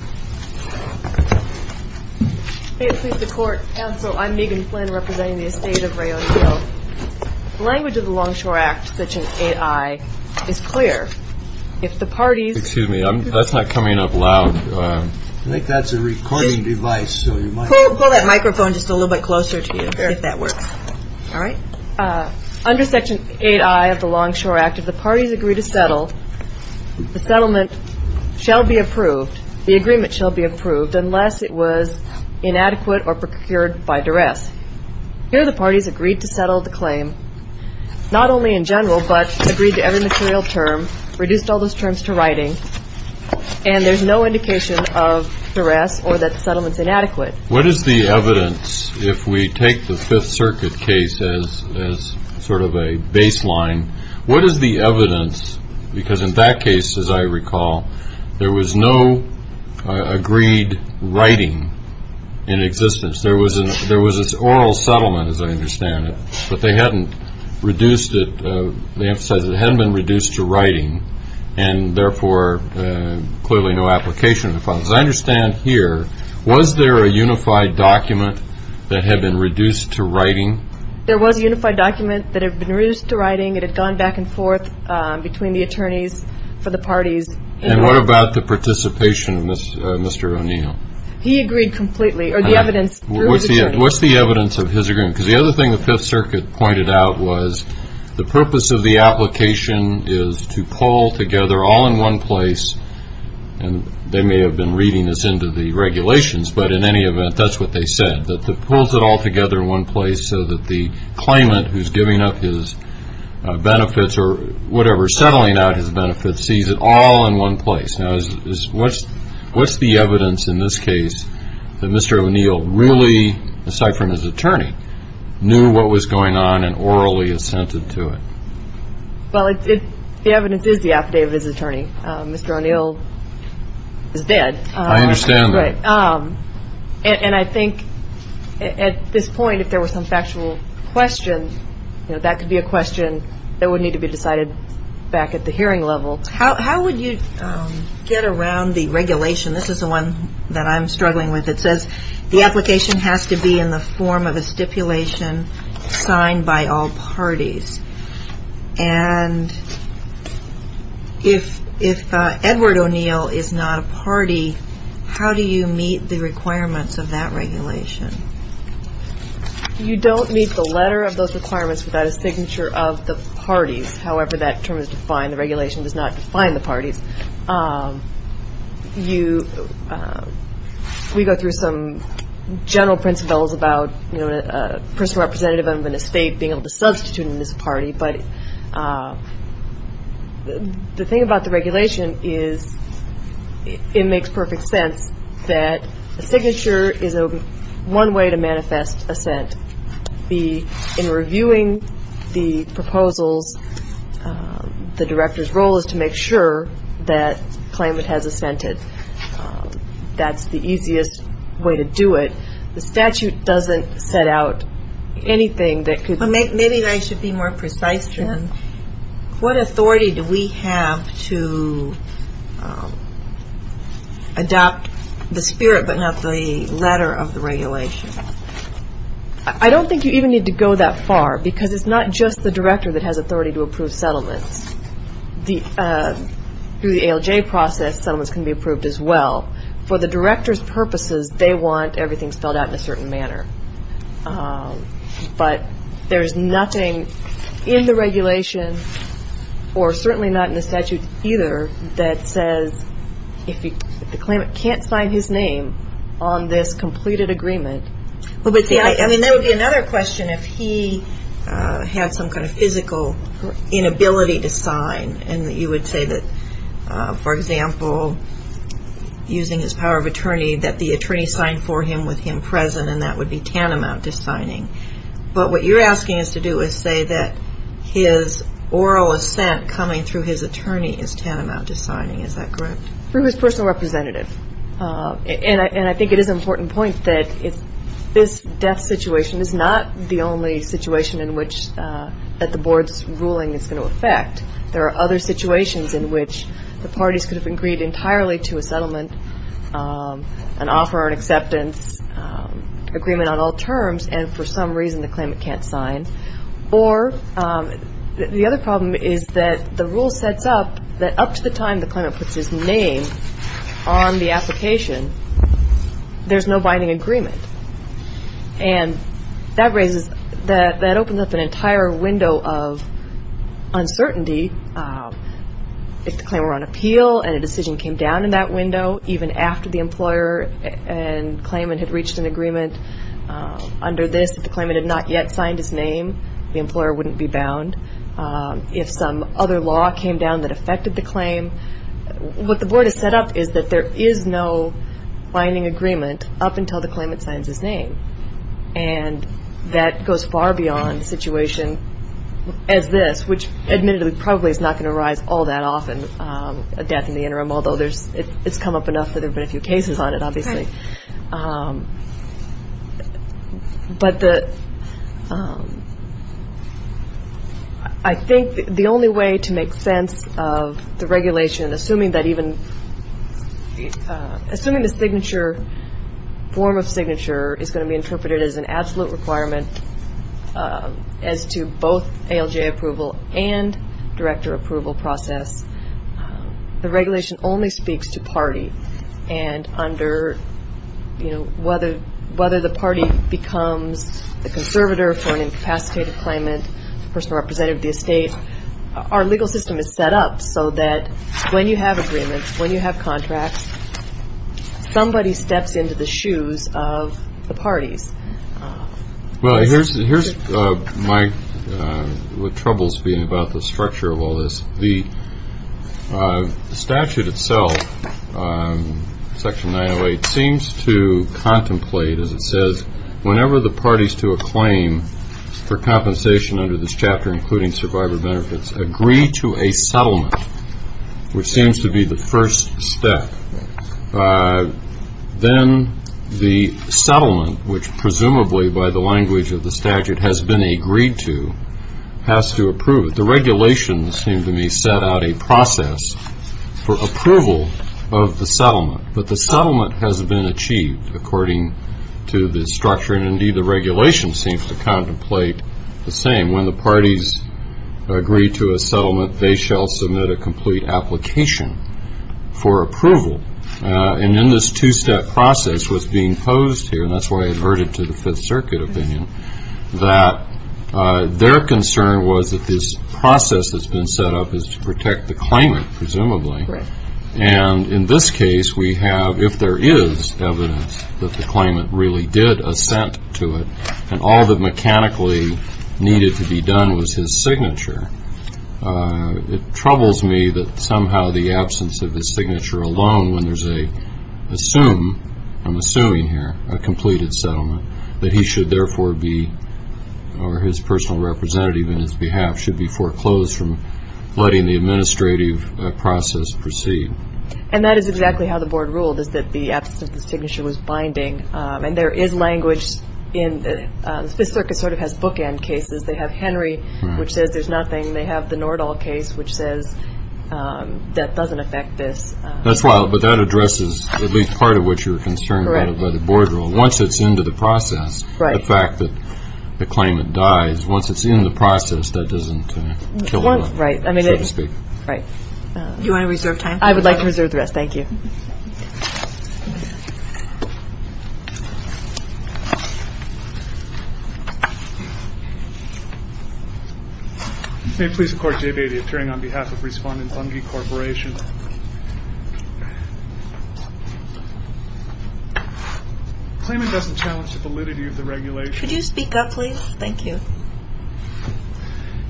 May it please the Court, Counsel, I'm Megan Flynn representing the estate of Ray O'Neil. The language of the Longshore Act, Section 8I, is clear. If the parties... Excuse me, that's not coming up loud. I think that's a recording device, so you might... Pull that microphone just a little bit closer to you, if that works. All right? Under Section 8I of the Longshore Act, if the parties agree to settle, the settlement shall be approved. The agreement shall be approved unless it was inadequate or procured by duress. Here the parties agreed to settle the claim, not only in general, but agreed to every material term, reduced all those terms to writing, and there's no indication of duress or that the settlement's inadequate. What is the evidence, if we take the Fifth Circuit case as sort of a baseline, what is the evidence, because in that case, as I recall, there was no agreed writing in existence. There was this oral settlement, as I understand it, but they hadn't reduced it, they emphasized it hadn't been reduced to writing, and therefore clearly no application of the clause. As I understand here, was there a unified document that had been reduced to writing? There was a unified document that had been reduced to writing. It had gone back and forth between the attorneys for the parties. And what about the participation of Mr. O'Neill? He agreed completely, or the evidence through his attorney. What's the evidence of his agreement? Because the other thing the Fifth Circuit pointed out was the purpose of the application is to pull together, all in one place, and they may have been reading this into the regulations, but in any event, that's what they said, that it pulls it all together in one place so that the claimant who's giving up his benefits or whatever, settling out his benefits, sees it all in one place. Now, what's the evidence in this case that Mr. O'Neill really, aside from his attorney, knew what was going on and orally assented to it? Well, the evidence is the affidavit of his attorney. Mr. O'Neill is dead. I understand that. And I think at this point, if there was some factual question, that could be a question that would need to be decided back at the hearing level. How would you get around the regulation? This is the one that I'm struggling with. It says the application has to be in the form of a stipulation signed by all parties. And if Edward O'Neill is not a party, how do you meet the requirements of that regulation? You don't meet the letter of those requirements without a signature of the parties, however that term is defined. The regulation does not define the parties. We go through some general principles about, you know, a person representative of an estate being able to substitute in this party, but the thing about the regulation is it makes perfect sense that a signature is one way to manifest assent. In reviewing the proposals, the director's role is to make sure that the claimant has assented. That's the easiest way to do it. The statute doesn't set out anything that could- Maybe I should be more precise. What authority do we have to adopt the spirit but not the letter of the regulation? I don't think you even need to go that far, because it's not just the director that has authority to approve settlements. Through the ALJ process, settlements can be approved as well. For the director's purposes, they want everything spelled out in a certain manner. But there's nothing in the regulation, or certainly not in the statute either, that says if the claimant can't sign his name on this completed agreement- There would be another question if he had some kind of physical inability to sign, and you would say that, for example, using his power of attorney, that the attorney signed for him with him present, and that would be tantamount to signing. But what you're asking us to do is say that his oral assent coming through his attorney is tantamount to signing. Is that correct? Through his personal representative. And I think it is an important point that this death situation is not the only situation in which the board's ruling is going to affect. There are other situations in which the parties could have agreed entirely to a settlement, an offer, an acceptance, agreement on all terms, and for some reason the claimant can't sign. Or the other problem is that the rule sets up that up to the time the claimant puts his name on the application, there's no binding agreement. And that opens up an entire window of uncertainty. If the claimant were on appeal and a decision came down in that window, even after the employer and claimant had reached an agreement under this, if the claimant had not yet signed his name, the employer wouldn't be bound. If some other law came down that affected the claim, what the board has set up is that there is no binding agreement up until the claimant signs his name. And that goes far beyond a situation as this, which admittedly probably is not going to arise all that often, a death in the interim, although it's come up enough that there have been a few cases on it, obviously. But I think the only way to make sense of the regulation, assuming the signature form of signature is going to be interpreted as an absolute requirement as to both ALJ approval and director approval process, the regulation only speaks to party. And whether the party becomes the conservator for an incapacitated claimant, the person representative of the estate, our legal system is set up so that when you have agreements, when you have contracts, somebody steps into the shoes of the parties. Well, here's my troubles being about the structure of all this. The statute itself, Section 908, seems to contemplate, as it says, whenever the parties to a claim for compensation under this chapter, including survivor benefits, agree to a settlement, which seems to be the first step. Then the settlement, which presumably by the language of the statute has been agreed to, has to approve. The regulations seem to me set out a process for approval of the settlement. But the settlement has been achieved according to the structure, and indeed the regulation seems to contemplate the same. When the parties agree to a settlement, they shall submit a complete application for approval. And then this two-step process was being posed here, and that's why I averted to the Fifth Circuit opinion, that their concern was that this process that's been set up is to protect the claimant, presumably. And in this case, we have, if there is evidence that the claimant really did assent to it, and all that mechanically needed to be done was his signature, it troubles me that somehow the absence of his signature alone, when there's a, assume, I'm assuming here, a completed settlement, that he should therefore be, or his personal representative in his behalf, should be foreclosed from letting the administrative process proceed. And that is exactly how the Board ruled, is that the absence of the signature was binding. And there is language in, the Fifth Circuit sort of has bookend cases. They have Henry, which says there's nothing. They have the Nordahl case, which says that doesn't affect this. That's wild, but that addresses at least part of what you were concerned about by the Board rule. Once it's into the process, the fact that the claimant dies, once it's in the process, that doesn't kill the law, so to speak. Right. Do you want to reserve time? I would like to reserve the rest. Thank you. May it please the Court, J. Batey, appearing on behalf of Respondent Bunge Corporation. Claimant doesn't challenge the validity of the regulation. Could you speak up, please? Thank you.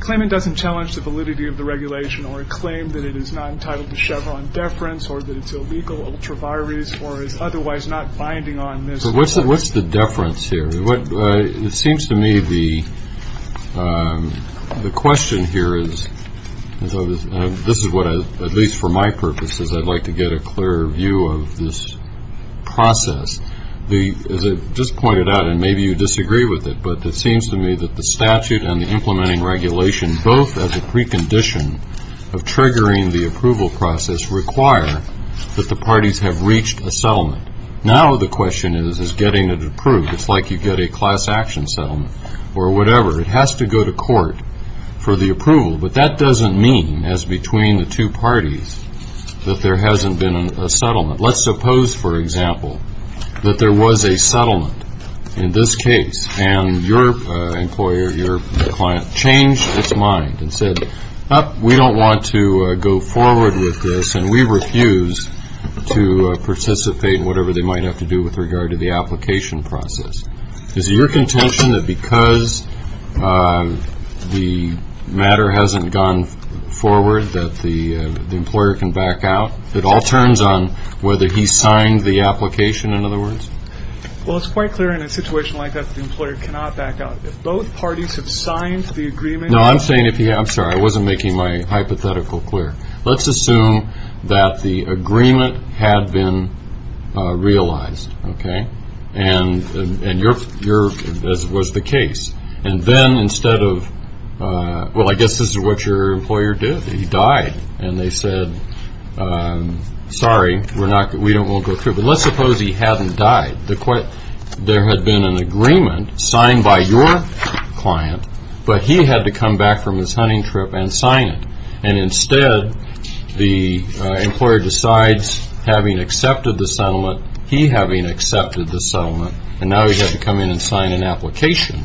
Claimant doesn't challenge the validity of the regulation or claim that it is not entitled to Chevron deference or that it's a legal ultravirus or is otherwise not binding on this law. So what's the deference here? It seems to me the question here is, this is what, at least for my purposes, I'd like to get a clearer view of this process. As I just pointed out, and maybe you disagree with it, but it seems to me that the statute and the implementing regulation, both as a precondition of triggering the approval process, require that the parties have reached a settlement. Now the question is, is getting it approved. It's like you get a class action settlement or whatever. It has to go to court for the approval. But that doesn't mean, as between the two parties, that there hasn't been a settlement. Let's suppose, for example, that there was a settlement in this case, and your employer, your client, changed its mind and said, we don't want to go forward with this, and we refuse to participate in whatever they might have to do with regard to the application process. Is it your contention that because the matter hasn't gone forward that the employer can back out? It all turns on whether he signed the application, in other words. Well, it's quite clear in a situation like that that the employer cannot back out. If both parties have signed the agreement. No, I'm saying, I'm sorry, I wasn't making my hypothetical clear. Let's assume that the agreement had been realized, okay, and as was the case. And then instead of, well, I guess this is what your employer did. He died. And they said, sorry, we don't want to go through. But let's suppose he hadn't died. There had been an agreement signed by your client, but he had to come back from his hunting trip and sign it. And instead the employer decides, having accepted the settlement, he having accepted the settlement, and now he had to come in and sign an application,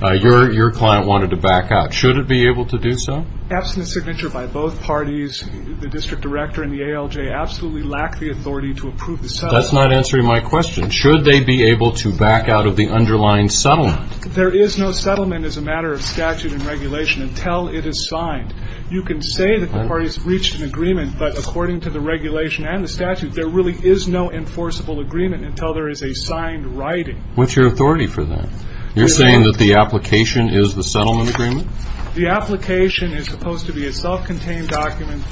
your client wanted to back out. Should it be able to do so? Absent a signature by both parties, the district director and the ALJ absolutely lack the authority to approve the settlement. That's not answering my question. Should they be able to back out of the underlying settlement? There is no settlement as a matter of statute and regulation until it is signed. You can say that the parties reached an agreement, but according to the regulation and the statute, there really is no enforceable agreement until there is a signed writing. What's your authority for that? You're saying that the application is the settlement agreement? The application is supposed to be a self-contained document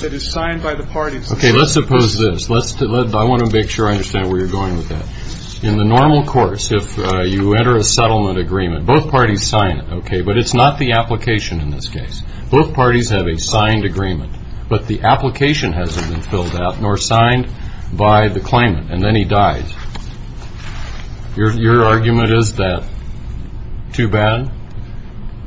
that is signed by the parties. Okay, let's suppose this. I want to make sure I understand where you're going with that. In the normal course, if you enter a settlement agreement, both parties sign it, okay, but it's not the application in this case. Both parties have a signed agreement, but the application hasn't been filled out nor signed by the claimant, and then he dies. Your argument is that too bad,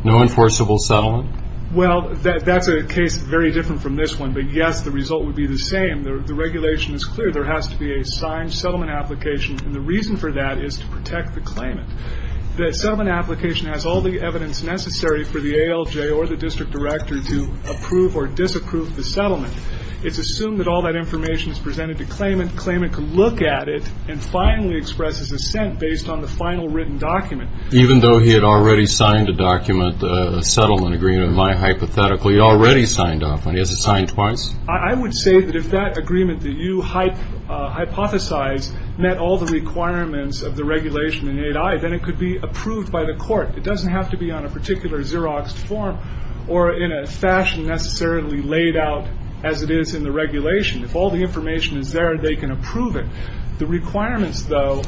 no enforceable settlement? Well, that's a case very different from this one, but, yes, the result would be the same. The regulation is clear. There has to be a signed settlement application, and the reason for that is to protect the claimant. The settlement application has all the evidence necessary for the ALJ or the district director to approve or disapprove the settlement. It's assumed that all that information is presented to claimant, the claimant can look at it and finally express his assent based on the final written document. Even though he had already signed a document, a settlement agreement, my hypothetical, he already signed off on it. Has he signed twice? I would say that if that agreement that you hypothesize met all the requirements of the regulation in 8I, then it could be approved by the court. It doesn't have to be on a particular xeroxed form or in a fashion necessarily laid out as it is in the regulation. If all the information is there, they can approve it. The requirements, though,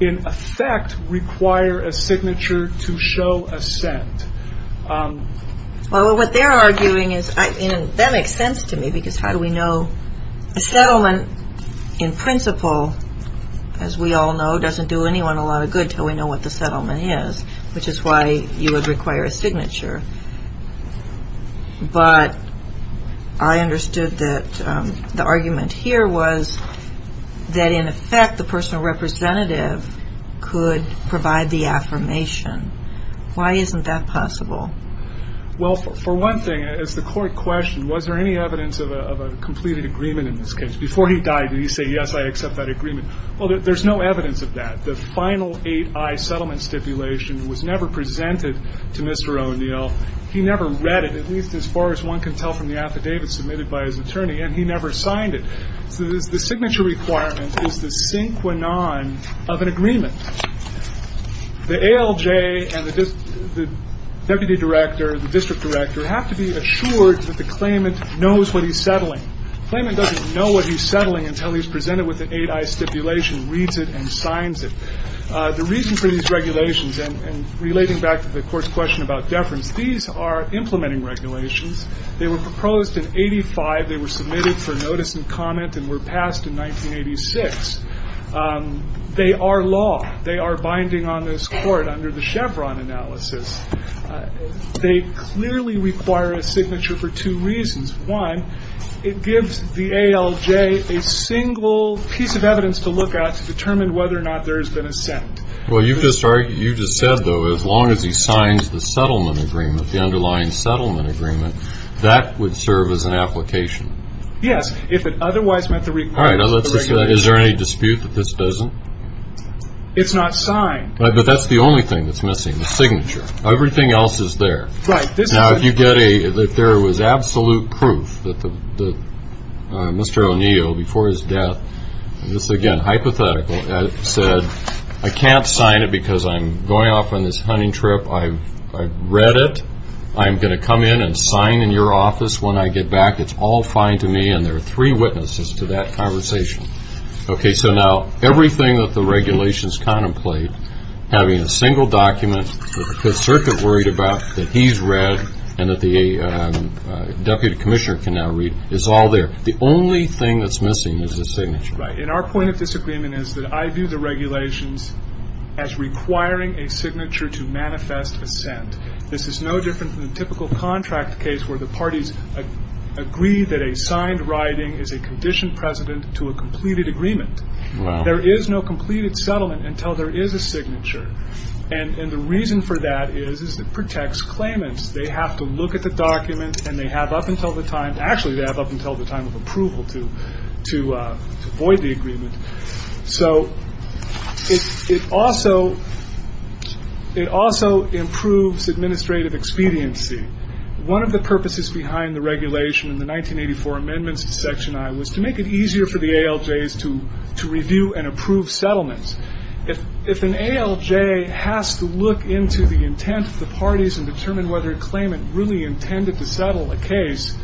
in effect require a signature to show assent. Well, what they're arguing is, and that makes sense to me because how do we know? A settlement in principle, as we all know, doesn't do anyone a lot of good until we know what the settlement is, which is why you would require a signature. But I understood that the argument here was that, in effect, the personal representative could provide the affirmation. Why isn't that possible? Well, for one thing, as the court questioned, was there any evidence of a completed agreement in this case? Before he died, did he say, yes, I accept that agreement? Well, there's no evidence of that. The final 8I settlement stipulation was never presented to Mr. O'Neill. He never read it, at least as far as one can tell from the affidavit submitted by his attorney, and he never signed it. So the signature requirement is the synchronon of an agreement. The ALJ and the deputy director, the district director, have to be assured that the claimant knows what he's settling. The claimant doesn't know what he's settling until he's presented with an 8I stipulation, reads it, and signs it. The reason for these regulations, and relating back to the Court's question about deference, these are implementing regulations. They were proposed in 85. They were submitted for notice and comment and were passed in 1986. They are law. They are binding on this Court under the Chevron analysis. They clearly require a signature for two reasons. One, it gives the ALJ a single piece of evidence to look at to determine whether or not there has been a settlement. Well, you just said, though, as long as he signs the settlement agreement, the underlying settlement agreement, that would serve as an application. Yes, if it otherwise met the requirements of the regulation. All right, now let's just say, is there any dispute that this doesn't? It's not signed. But that's the only thing that's missing, the signature. Everything else is there. Right. Now, if you get a, if there was absolute proof that Mr. O'Neill, before his death, this is, again, hypothetical, said, I can't sign it because I'm going off on this hunting trip. I've read it. I'm going to come in and sign in your office when I get back. It's all fine to me. And there are three witnesses to that conversation. Okay, so now everything that the regulations contemplate, having a single document that the Circuit worried about, that he's read, and that the Deputy Commissioner can now read, is all there. The only thing that's missing is the signature. Right. And our point of disagreement is that I view the regulations as requiring a signature to manifest assent. This is no different than a typical contract case where the parties agree that a signed writing is a conditioned precedent to a completed agreement. Wow. There is no completed settlement until there is a signature. And the reason for that is it protects claimants. They have to look at the document, and they have up until the time, actually, they have up until the time of approval to void the agreement. So it also improves administrative expediency. One of the purposes behind the regulation in the 1984 amendments to Section I was to make it easier for the ALJs to review and approve settlements. If an ALJ has to look into the intent of the parties and determine whether a claimant really intended to settle a case,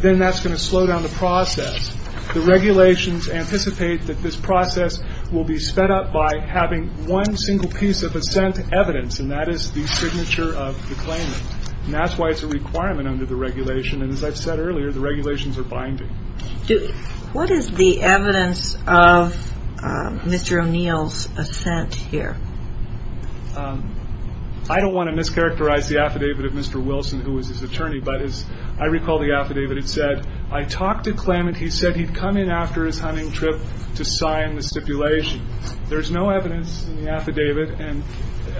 then that's going to slow down the process. The regulations anticipate that this process will be sped up by having one single piece of assent evidence, and that is the signature of the claimant. And that's why it's a requirement under the regulation. And as I've said earlier, the regulations are binding. What is the evidence of Mr. O'Neill's assent here? I don't want to mischaracterize the affidavit of Mr. Wilson, who was his attorney, but as I recall the affidavit, it said, I talked to claimant, he said he'd come in after his hunting trip to sign the stipulation. There's no evidence in the affidavit, and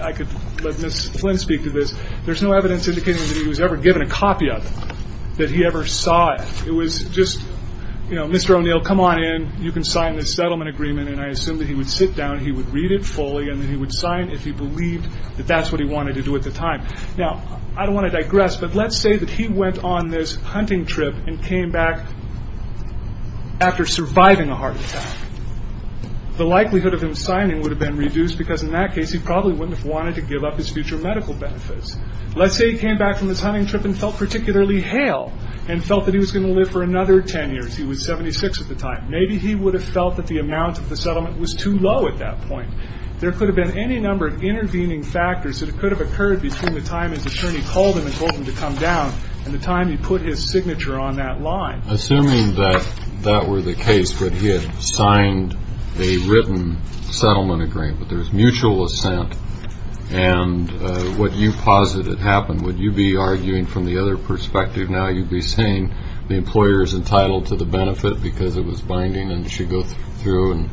I could let Ms. Flynn speak to this, there's no evidence indicating that he was ever given a copy of it, that he ever saw it. It was just, you know, Mr. O'Neill, come on in, you can sign this settlement agreement, and I assume that he would sit down, he would read it fully, and then he would sign if he believed that that's what he wanted to do at the time. Now, I don't want to digress, but let's say that he went on this hunting trip and came back after surviving a heart attack. The likelihood of him signing would have been reduced, because in that case he probably wouldn't have wanted to give up his future medical benefits. Let's say he came back from his hunting trip and felt particularly hale, and felt that he was going to live for another 10 years. He was 76 at the time. Maybe he would have felt that the amount of the settlement was too low at that point. There could have been any number of intervening factors that could have occurred between the time his attorney called him and told him to come down and the time he put his signature on that line. Assuming that that were the case, that he had signed a written settlement agreement, that there was mutual assent, and what you posited happened, would you be arguing from the other perspective now, you'd be saying the employer is entitled to the benefit because it was binding and should go through?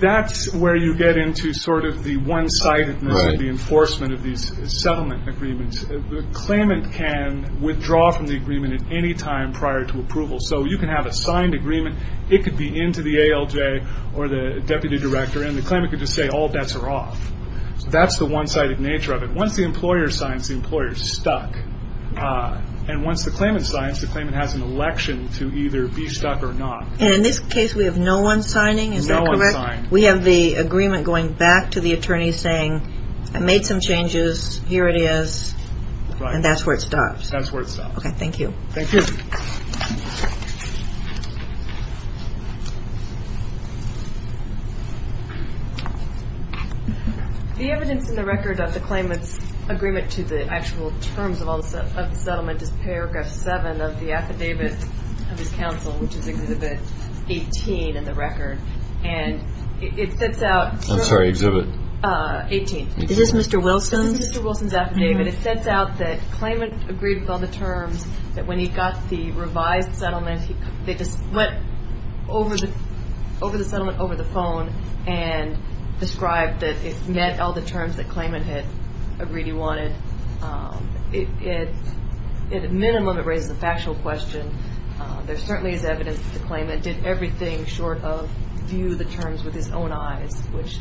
That's where you get into the one-sidedness of the enforcement of these settlement agreements. The claimant can withdraw from the agreement at any time prior to approval. You can have a signed agreement. It could be into the ALJ or the deputy director, and the claimant could just say all bets are off. That's the one-sided nature of it. Once the employer signs, the employer is stuck. Once the claimant signs, the claimant has an election to either be stuck or not. In this case, we have no one signing, is that correct? No one signed. We have the agreement going back to the attorney saying, I made some changes, here it is, and that's where it stops. That's where it stops. Okay, thank you. Thank you. The evidence in the record of the claimant's agreement to the actual terms of the settlement is Paragraph 7 of the affidavit of his counsel, which is Exhibit 18 in the record. And it sets out – I'm sorry, Exhibit? 18. Is this Mr. Wilson? This is Mr. Wilson's affidavit. It sets out that the claimant agreed with all the terms, that when he got the revised settlement, they just went over the settlement over the phone and described that it met all the terms that the claimant had agreed he wanted. At a minimum, it raises a factual question. There certainly is evidence that the claimant did everything short of view the terms with his own eyes, which,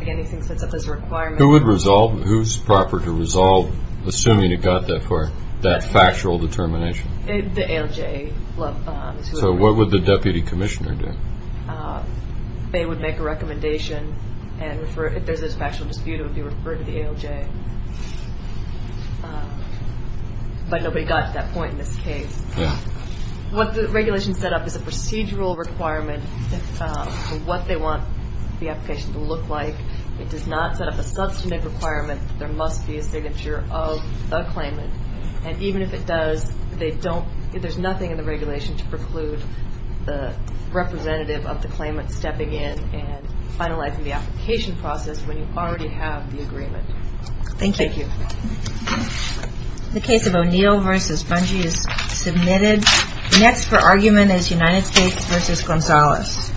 again, he thinks sets up this requirement. Who's proper to resolve, assuming he got that far, that factual determination? The ALJ. So what would the deputy commissioner do? They would make a recommendation, and if there's a factual dispute, it would be referred to the ALJ. But nobody got to that point in this case. What the regulation set up is a procedural requirement for what they want the application to look like. It does not set up a substantive requirement that there must be a signature of the claimant. And even if it does, there's nothing in the regulation to preclude the representative of the claimant stepping in and finalizing the application process when you already have the agreement. Thank you. The case of O'Neill v. Bungie is submitted. Next for argument is United States v. Gonzalez. Thank you.